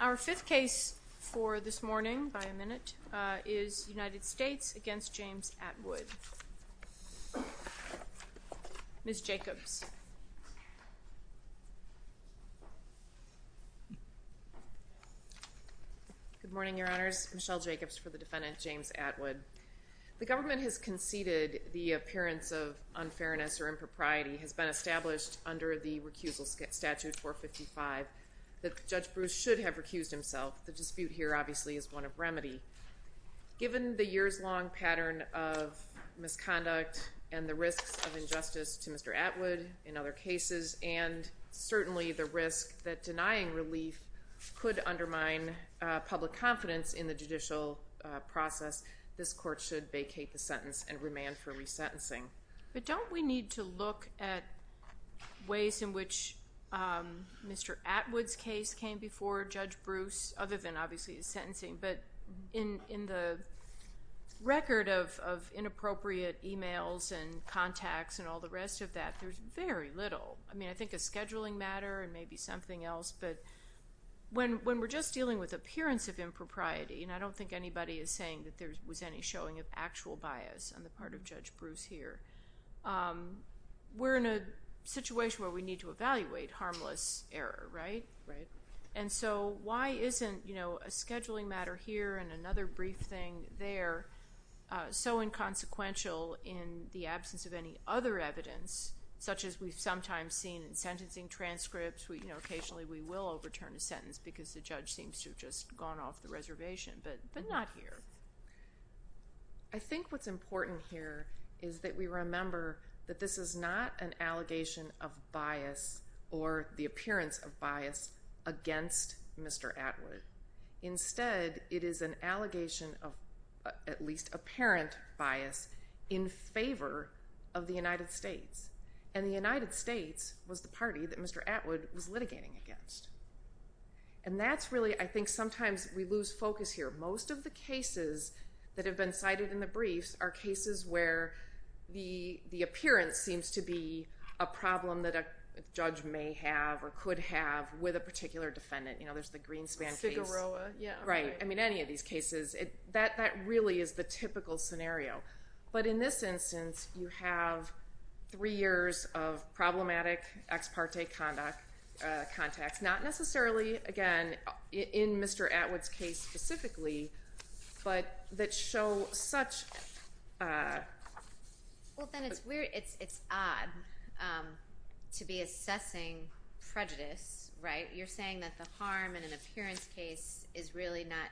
Our fifth case for this morning, by a minute, is United States v. James Atwood. Ms. Jacobs. Good morning, Your Honors. Michelle Jacobs for the defendant, James Atwood. The government has conceded the appearance of unfairness or impropriety has been established under the recusal statute 455 that Judge Bruce should have recused himself. The dispute here, obviously, is one of remedy. Given the years-long pattern of misconduct and the risks of injustice to Mr. Atwood in other cases, and certainly the risk that denying relief could undermine public confidence in the judicial process, this court should vacate the sentence and remand for resentencing. But don't we need to look at ways in which Mr. Atwood's case came before Judge Bruce, other than, obviously, his sentencing, but in the record of inappropriate e-mails and contacts and all the rest of that, there's very little. I mean, I think a scheduling matter and maybe something else, but when we're just dealing with appearance of impropriety, and I don't think anybody is saying that there was any showing of actual bias on the part of Judge Bruce here, we're in a situation where we need to evaluate harmless error, right? Right. And so why isn't a scheduling matter here and another brief thing there so inconsequential in the absence of any other evidence, such as we've sometimes seen in sentencing transcripts, you know, occasionally we will overturn a sentence because the judge seems to have just gone off the reservation, but not here. I think what's important here is that we remember that this is not an allegation of bias or the appearance of bias against Mr. Atwood. Instead, it is an allegation of at least apparent bias in favor of the United States. And the United States was the party that Mr. Atwood was litigating against. And that's really, I think sometimes we lose focus here. Most of the cases that have been cited in the briefs are cases where the appearance seems to be a problem that a judge may have or could have with a particular defendant. You know, there's the Greenspan case. The Figueroa, yeah. Right. I mean, any of these cases. That really is the typical scenario. But in this instance, you have three years of problematic ex parte contacts, not necessarily, again, in Mr. Atwood's case specifically, but that show such. Well, then it's odd to be assessing prejudice, right? You're saying that the harm in an appearance case is really not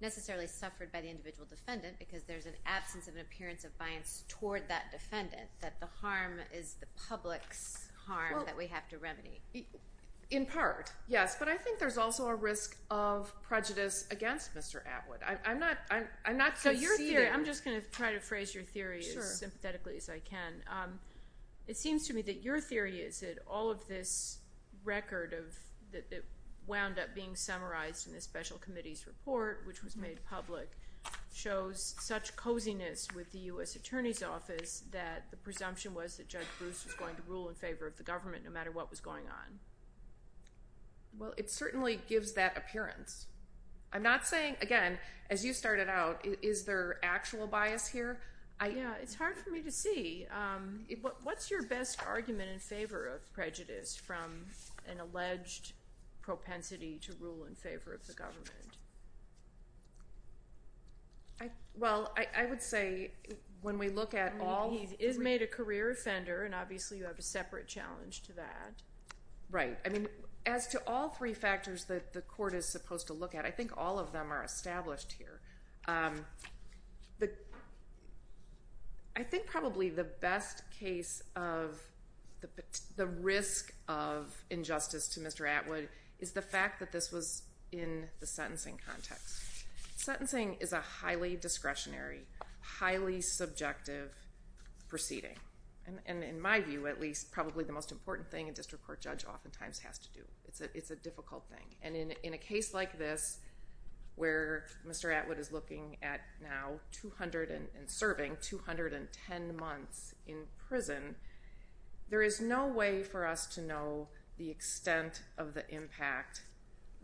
necessarily suffered by the individual defendant because there's an absence of an appearance of bias toward that defendant, that the harm is the public's harm that we have to remedy. In part, yes. But I think there's also a risk of prejudice against Mr. Atwood. I'm not conceding. So your theory, I'm just going to try to phrase your theory as sympathetically as I can. It seems to me that your theory is that all of this record that wound up being summarized in this special committee's report, which was made public, shows such coziness with the U.S. Attorney's Office that the presumption was that Judge Bruce was going to rule in favor of the government no matter what was going on. Well, it certainly gives that appearance. I'm not saying, again, as you started out, is there actual bias here? Yeah, it's hard for me to see. What's your best argument in favor of prejudice from an alleged propensity to rule in favor of the government? Well, I would say when we look at all three. He is made a career offender, and obviously you have a separate challenge to that. Right. I mean, as to all three factors that the court is supposed to look at, I think all of them are established here. I think probably the best case of the risk of injustice to Mr. Atwood is the fact that this was in the sentencing context. Sentencing is a highly discretionary, highly subjective proceeding. And in my view, at least, probably the most important thing a district court judge oftentimes has to do. It's a difficult thing. And in a case like this, where Mr. Atwood is looking at now serving 210 months in prison, there is no way for us to know the extent of the impact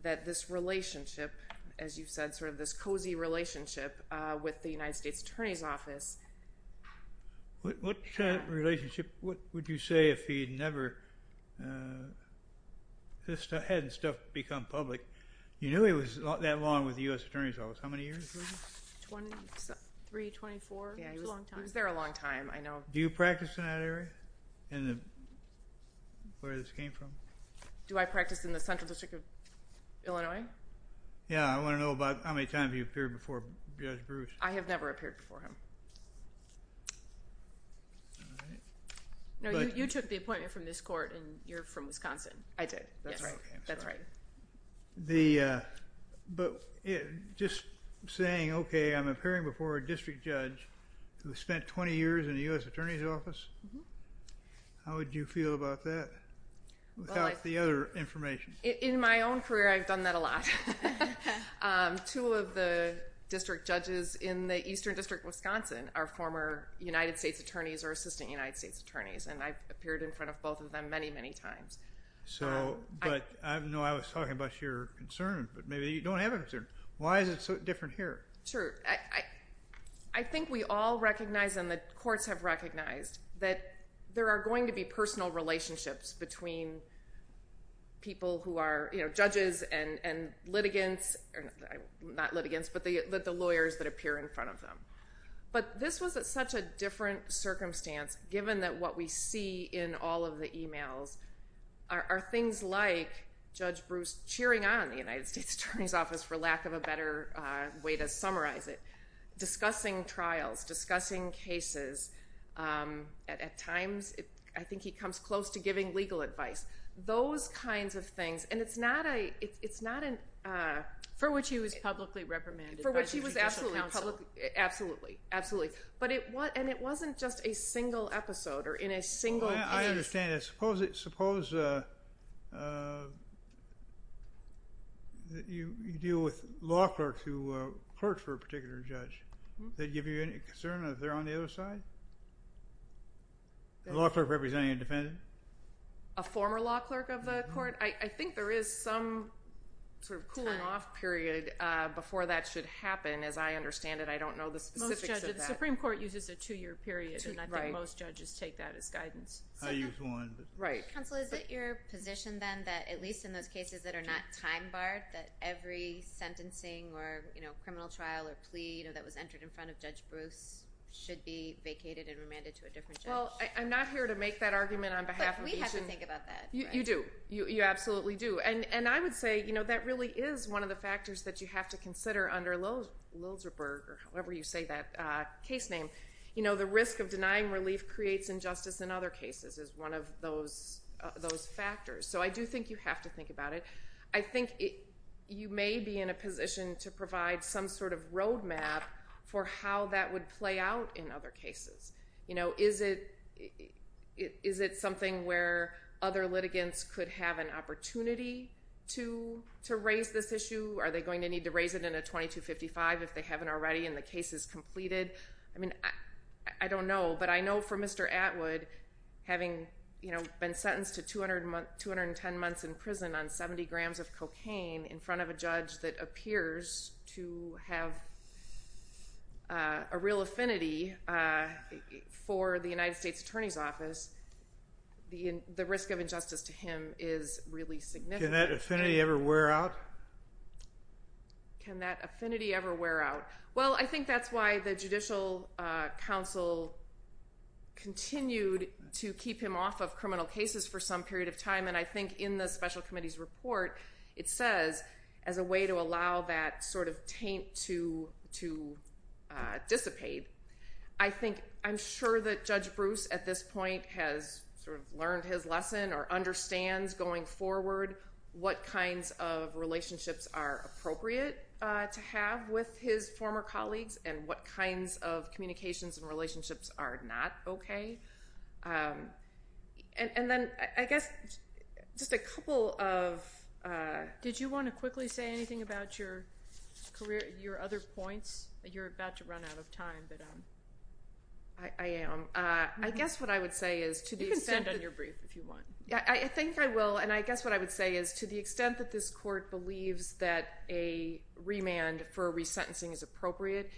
that this relationship, as you said, sort of this cozy relationship with the United States Attorney's Office. What kind of relationship? What would you say if he never had stuff become public? You knew he was that long with the U.S. Attorney's Office. How many years? 23, 24. It was a long time. He was there a long time, I know. Do you practice in that area, where this came from? Do I practice in the Central District of Illinois? Yeah. I want to know about how many times you've appeared before Judge Bruce. I have never appeared before him. All right. No, you took the appointment from this court, and you're from Wisconsin. I did. That's right. That's right. But just saying, okay, I'm appearing before a district judge who spent 20 years in the U.S. Attorney's Office, how would you feel about that without the other information? In my own career, I've done that a lot. Two of the district judges in the Eastern District of Wisconsin are former United States attorneys or assistant United States attorneys, and I've appeared in front of both of them many, many times. But I know I was talking about your concern, but maybe you don't have a concern. Why is it so different here? Sure. I think we all recognize, and the courts have recognized, that there are going to be personal relationships between people who are judges and litigants, not litigants, but the lawyers that appear in front of them. But this was at such a different circumstance, given that what we see in all of the emails are things like Judge Bruce cheering on the United States Attorney's Office, for lack of a better way to summarize it, discussing trials, discussing cases. At times, I think he comes close to giving legal advice. Those kinds of things. And it's not a – it's not a – For which he was publicly reprimanded by the Judicial Council. For which he was absolutely publicly – absolutely, absolutely. And it wasn't just a single episode or in a single case. I understand. Suppose you deal with law clerks who clerk for a particular judge. Does that give you any concern that they're on the other side? A law clerk representing a defendant? A former law clerk of the court? I think there is some sort of cooling-off period before that should happen, as I understand it. I don't know the specifics of that. Most judges – the Supreme Court uses a two-year period, and I think most judges take that as guidance. I use one. Right. Counsel, is it your position, then, that at least in those cases that are not time-barred, that every sentencing or criminal trial or plea that was entered in front of Judge Bruce should be vacated and remanded to a different judge? Well, I'm not here to make that argument on behalf of each and – But we have to think about that, right? You do. You absolutely do. And I would say that really is one of the factors that you have to consider under Lilzerberg, or however you say that case name. The risk of denying relief creates injustice in other cases is one of those factors. So I do think you have to think about it. I think you may be in a position to provide some sort of roadmap for how that would play out in other cases. You know, is it something where other litigants could have an opportunity to raise this issue? Are they going to need to raise it in a 2255 if they haven't already and the case is completed? I mean, I don't know, but I know for Mr. Atwood, having been sentenced to 210 months in prison on 70 grams of cocaine in front of a judge that appears to have a real affinity for the United States Attorney's Office, the risk of injustice to him is really significant. Can that affinity ever wear out? Can that affinity ever wear out? Well, I think that's why the Judicial Council continued to keep him off of criminal cases for some period of time. And I think in the Special Committee's report, it says, as a way to allow that sort of taint to dissipate, I think I'm sure that Judge Bruce at this point has sort of learned his lesson or understands going forward what kinds of relationships are appropriate to have with his former colleagues and what kinds of communications and relationships are not okay. And then I guess just a couple of... Did you want to quickly say anything about your other points? You're about to run out of time, but... I am. I guess what I would say is to the extent that... You can extend on your brief if you want. I think I will, and I guess what I would say is to the extent that this Court believes that a remand for resentencing is appropriate,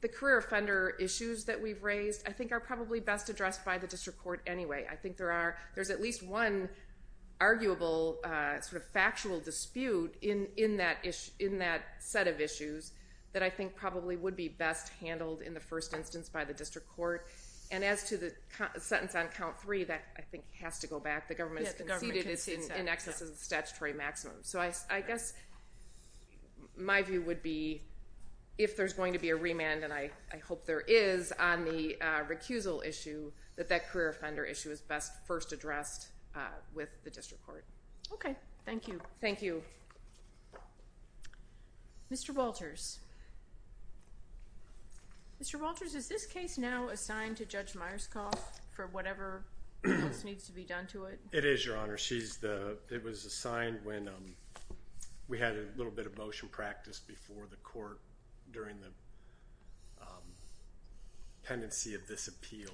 the career offender issues that we've raised I think are probably best addressed by the District Court anyway. I think there's at least one arguable sort of factual dispute in that set of issues that I think probably would be best handled in the first instance by the District Court. And as to the sentence on count three, that I think has to go back. The government has conceded it's in excess of the statutory maximum. So I guess my view would be if there's going to be a remand, and I hope there is on the recusal issue, that that career offender issue is best first addressed with the District Court. Okay. Thank you. Thank you. Mr. Walters. Mr. Walters, is this case now assigned to Judge Myerscough for whatever else needs to be done to it? It is, Your Honor. It was assigned when we had a little bit of motion practice before the Court during the pendency of this appeal,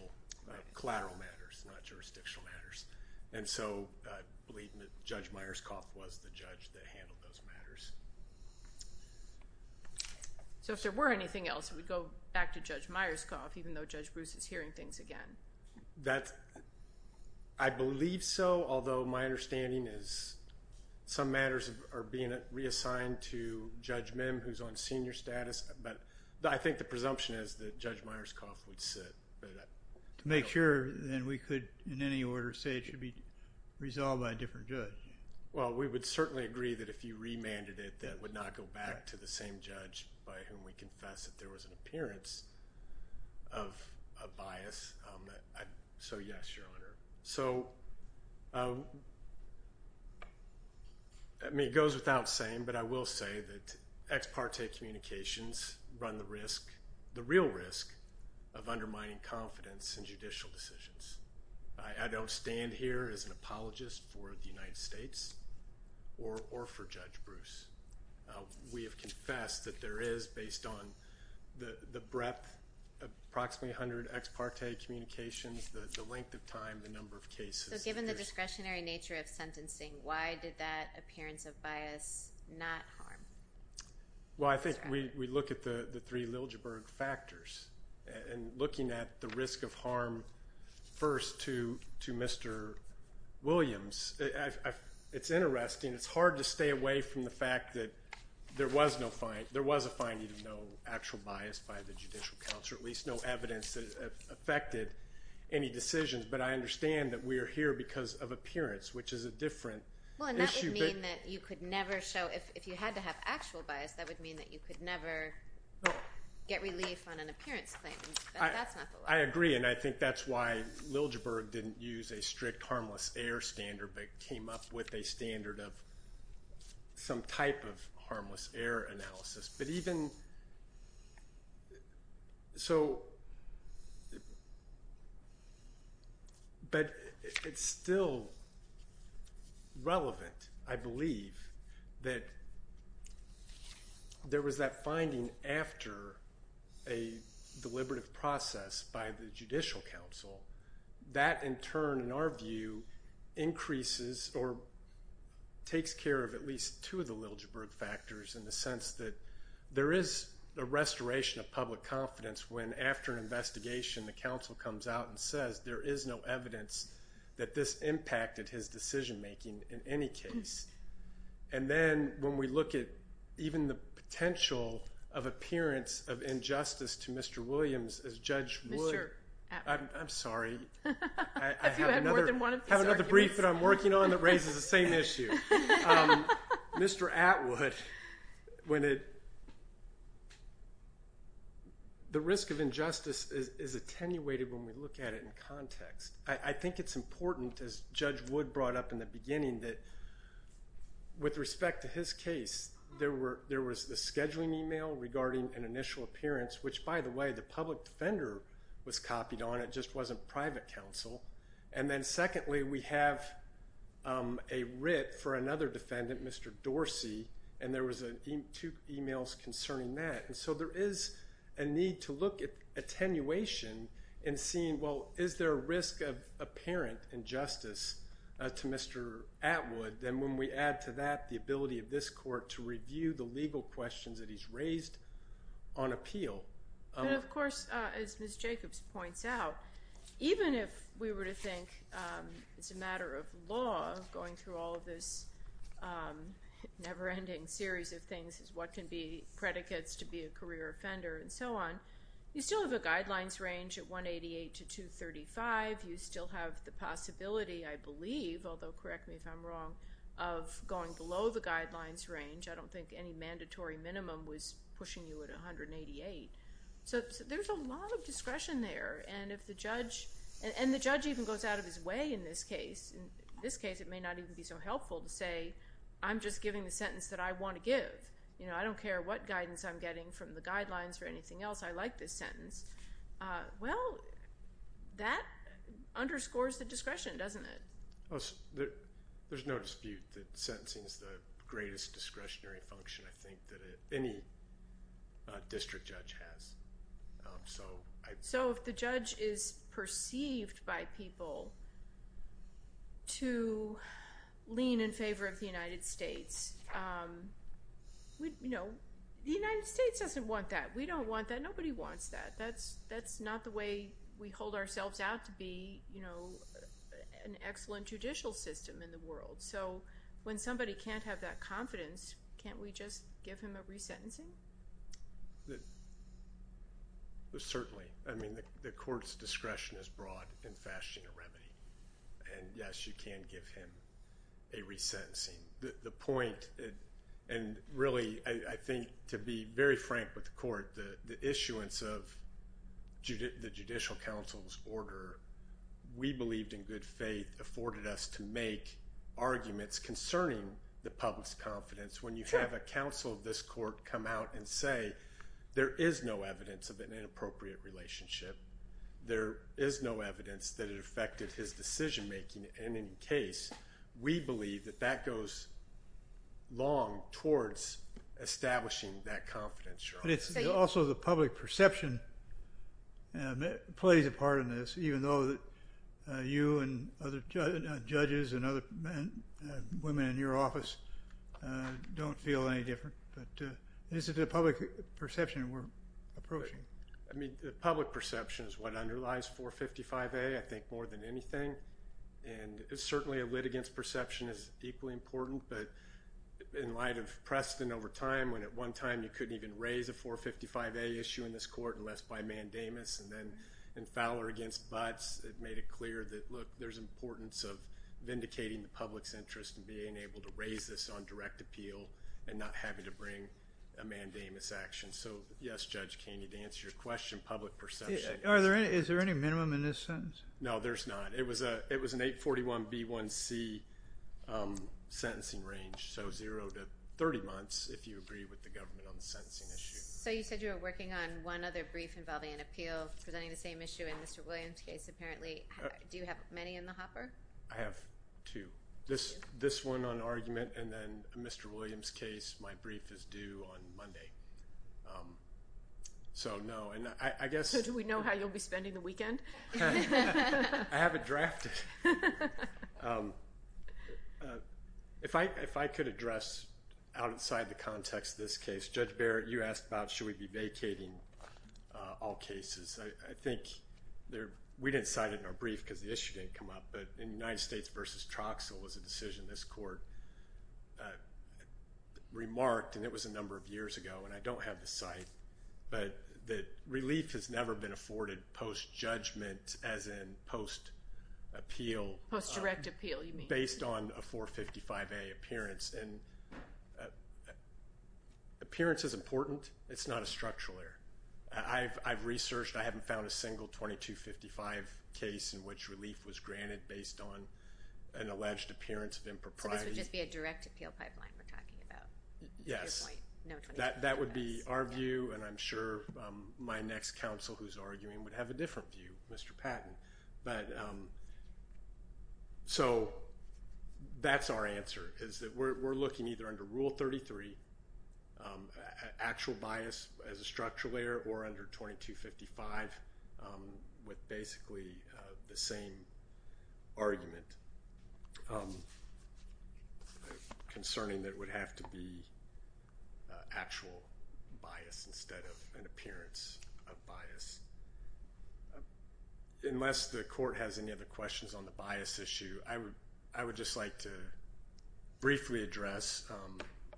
collateral matters, not jurisdictional matters. And so I believe that Judge Myerscough was the judge that handled those matters. So if there were anything else, it would go back to Judge Myerscough, even though Judge Bruce is hearing things again. I believe so, although my understanding is some matters are being reassigned to Judge Mim, who's on senior status. But I think the presumption is that Judge Myerscough would sit. To make sure, then we could in any order say it should be resolved by a different judge. Well, we would certainly agree that if you remanded it, that would not go back to the same judge by whom we confessed that there was an appearance of bias. So yes, Your Honor. So, I mean, it goes without saying, but I will say that ex parte communications run the risk, the real risk of undermining confidence in judicial decisions. I don't stand here as an apologist for the United States or for Judge Bruce. We have confessed that there is, based on the breadth, approximately 100 ex parte communications, the length of time, the number of cases. So given the discretionary nature of sentencing, why did that appearance of bias not harm? Well, I think we look at the three Liljeburg factors. And looking at the risk of harm first to Mr. Williams, it's interesting. It's hard to stay away from the fact that there was a finding of no actual bias by the judicial counsel, at least no evidence that affected any decisions. But I understand that we are here because of appearance, which is a different issue. Well, and that would mean that you could never show, if you had to have actual bias, that would mean that you could never get relief on an appearance claim. That's not the law. I agree, and I think that's why Liljeburg didn't use a strict harmless error standard but came up with a standard of some type of harmless error analysis. But it's still relevant, I believe, that there was that finding after a deliberative process by the judicial counsel. That, in turn, in our view, increases or takes care of at least two of the Liljeburg factors in the sense that there is a restoration of public confidence when, after an investigation, the counsel comes out and says there is no evidence that this impacted his decision-making in any case. And then when we look at even the potential of appearance of injustice to Mr. Williams as Judge Wood. Mr. Atwood. I'm sorry. Have you had more than one of these arguments? I have another brief that I'm working on that raises the same issue. Mr. Atwood, the risk of injustice is attenuated when we look at it in context. I think it's important, as Judge Wood brought up in the beginning, that with respect to his case, there was the scheduling email regarding an initial appearance, which, by the way, the public defender was copied on. It just wasn't private counsel. And then, secondly, we have a writ for another defendant, Mr. Dorsey, and there was two emails concerning that. And so there is a need to look at attenuation and seeing, well, is there a risk of apparent injustice to Mr. Atwood? Then when we add to that the ability of this court to review the legal questions that he's raised on appeal. But, of course, as Ms. Jacobs points out, even if we were to think it's a matter of law, going through all of this never-ending series of things as what can be predicates to be a career offender and so on, you still have a guidelines range at 188 to 235. You still have the possibility, I believe, although correct me if I'm wrong, of going below the guidelines range. I don't think any mandatory minimum was pushing you at 188. So there's a lot of discretion there. And the judge even goes out of his way in this case. In this case, it may not even be so helpful to say, I'm just giving the sentence that I want to give. I don't care what guidance I'm getting from the guidelines or anything else. I like this sentence. Well, that underscores the discretion, doesn't it? There's no dispute that sentencing is the greatest discretionary function, I think, that any district judge has. So if the judge is perceived by people to lean in favor of the United States, the United States doesn't want that. We don't want that. Nobody wants that. That's not the way we hold ourselves out to be an excellent judicial system in the world. So when somebody can't have that confidence, can't we just give him a resentencing? Certainly. I mean, the court's discretion is broad in fashion and remedy. And, yes, you can give him a resentencing. And really, I think, to be very frank with the court, the issuance of the judicial counsel's order, we believed in good faith afforded us to make arguments concerning the public's confidence. When you have a counsel of this court come out and say there is no evidence of an inappropriate relationship, there is no evidence that it affected his decision-making in any case, we believe that that goes long towards establishing that confidence. Also, the public perception plays a part in this, even though you and other judges and other women in your office don't feel any different. But it's the public perception we're approaching. I mean, the public perception is what underlies 455A, I think, more than anything. And certainly, a lit against perception is equally important. But in light of Preston over time, when at one time you couldn't even raise a 455A issue in this court unless by mandamus, and then in Fowler against Butts, it made it clear that, look, there's importance of vindicating the public's interest in being able to raise this on direct appeal and not having to bring a mandamus action. So, yes, Judge Keeney, to answer your question, public perception. Is there any minimum in this sentence? No, there's not. It was an 841B1C sentencing range, so zero to 30 months if you agree with the government on the sentencing issue. So you said you were working on one other brief involving an appeal presenting the same issue in Mr. Williams' case, apparently. Do you have many in the hopper? I have two. This one on argument and then Mr. Williams' case, my brief is due on Monday. So, no. So do we know how you'll be spending the weekend? I have it drafted. If I could address outside the context of this case, Judge Barrett, you asked about should we be vacating all cases. I think we didn't cite it in our brief because the issue didn't come up, but in United States v. Troxell was a decision this court remarked, and it was a number of years ago and I don't have the site, but that relief has never been afforded post-judgment, as in post-appeal. Post-direct appeal, you mean. Based on a 455A appearance, and appearance is important. It's not a structural error. I've researched. I haven't found a single 2255 case in which relief was granted based on an alleged appearance of impropriety. So this would just be a direct appeal pipeline we're talking about? Yes. No 2255s? That would be our view, and I'm sure my next counsel who's arguing would have a different view, Mr. Patton. So that's our answer, is that we're looking either under Rule 33, actual bias as a structural error, or under 2255 with basically the same argument, concerning that it would have to be actual bias instead of an appearance of bias. Unless the court has any other questions on the bias issue, I would just like to briefly address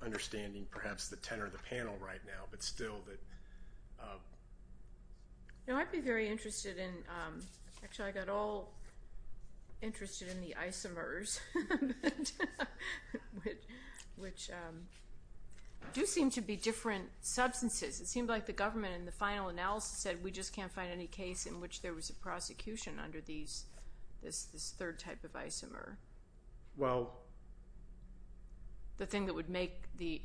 understanding perhaps the tenor of the panel right now, but still that... I'd be very interested in, actually I got all interested in the isomers, which do seem to be different substances. It seemed like the government in the final analysis said we just can't find any case in which there was a prosecution under this third type of isomer. Well... The thing that would make the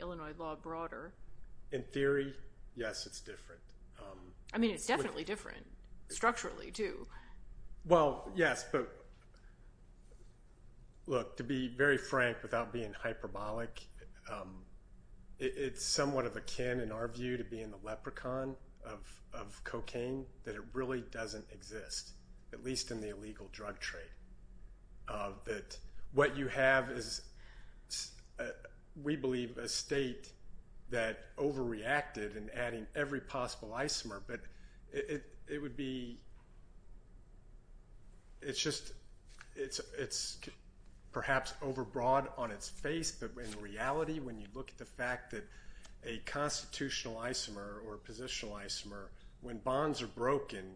Illinois law broader. In theory, yes, it's different. I mean, it's definitely different structurally, too. Well, yes, but look, to be very frank without being hyperbolic, it's somewhat akin in our view to being the leprechaun of cocaine, that it really doesn't exist, at least in the illegal drug trade. That what you have is, we believe, a state that overreacted in adding every possible isomer, but it would be... It's just, it's perhaps overbroad on its face, but in reality when you look at the fact that a constitutional isomer or a positional isomer, when bonds are broken,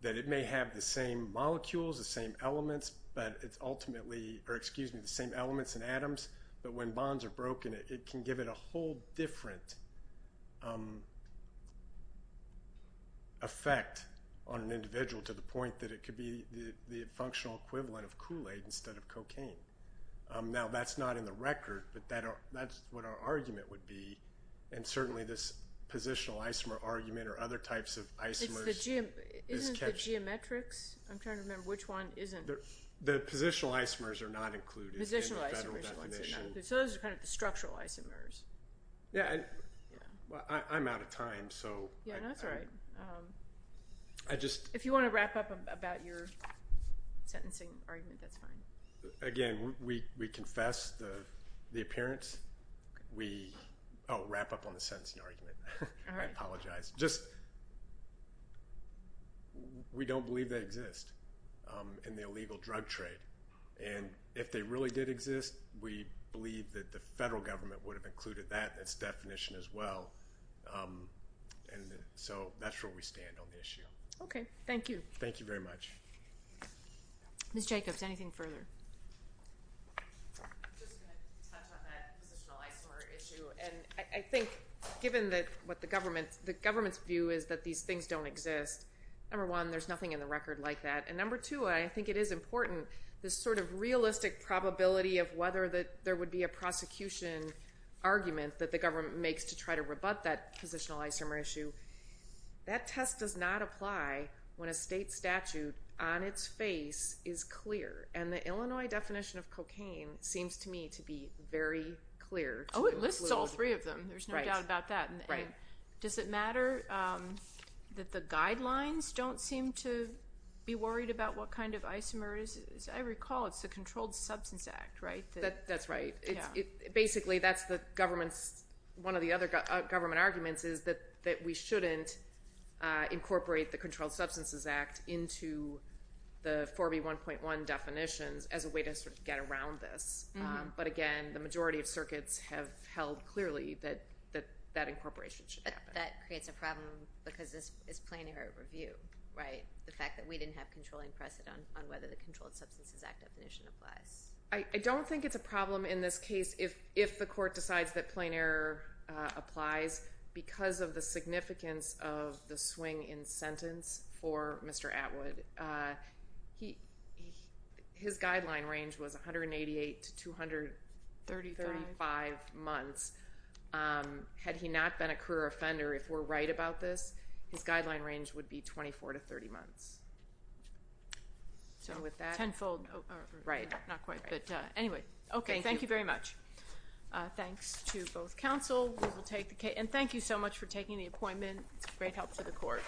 that it may have the same molecules, the same elements, but it's ultimately, or excuse me, the same elements and atoms, but when bonds are broken, it can give it a whole different effect on an individual to the point that it could be the functional equivalent of Kool-Aid instead of cocaine. Now, that's not in the record, but that's what our argument would be, and certainly this positional isomer argument or other types of isomers... Isn't the geometrics? I'm trying to remember which one isn't. The positional isomers are not included in the federal definition. So those are kind of the structural isomers. Yeah, I'm out of time, so... Yeah, no, that's all right. I just... If you want to wrap up about your sentencing argument, that's fine. Again, we confess the appearance. Oh, wrap up on the sentencing argument. All right. I apologize. We don't believe they exist in the illegal drug trade, and if they really did exist, we believe that the federal government would have included that in its definition as well, and so that's where we stand on the issue. Okay, thank you. Thank you very much. Ms. Jacobs, anything further? I'm just going to touch on that positional isomer issue, and I think given what the government's view is that these things don't exist, number one, there's nothing in the record like that, and number two, I think it is important, this sort of realistic probability of whether there would be a prosecution argument that the government makes to try to rebut that positional isomer issue, that test does not apply when a state statute on its face is clear and the Illinois definition of cocaine seems to me to be very clear. Oh, it lists all three of them. There's no doubt about that. Right. Does it matter that the guidelines don't seem to be worried about what kind of isomer is? I recall it's the Controlled Substances Act, right? That's right. Basically, that's the government's one of the other government arguments is that we shouldn't incorporate the Controlled Substances Act into the 4B1.1 definitions as a way to sort of get around this. But, again, the majority of circuits have held clearly that that incorporation should happen. That creates a problem because this is plain error review, right, the fact that we didn't have controlling precedent on whether the Controlled Substances Act definition applies. I don't think it's a problem in this case if the court decides that plain error applies because of the significance of the swing in sentence for Mr. Atwood. His guideline range was 188 to 235 months. Had he not been a career offender, if we're right about this, his guideline range would be 24 to 30 months. Tenfold. Right. Not quite, but anyway. Okay, thank you very much. Thanks to both counsel. And thank you so much for taking the appointment. It's a great help to the court.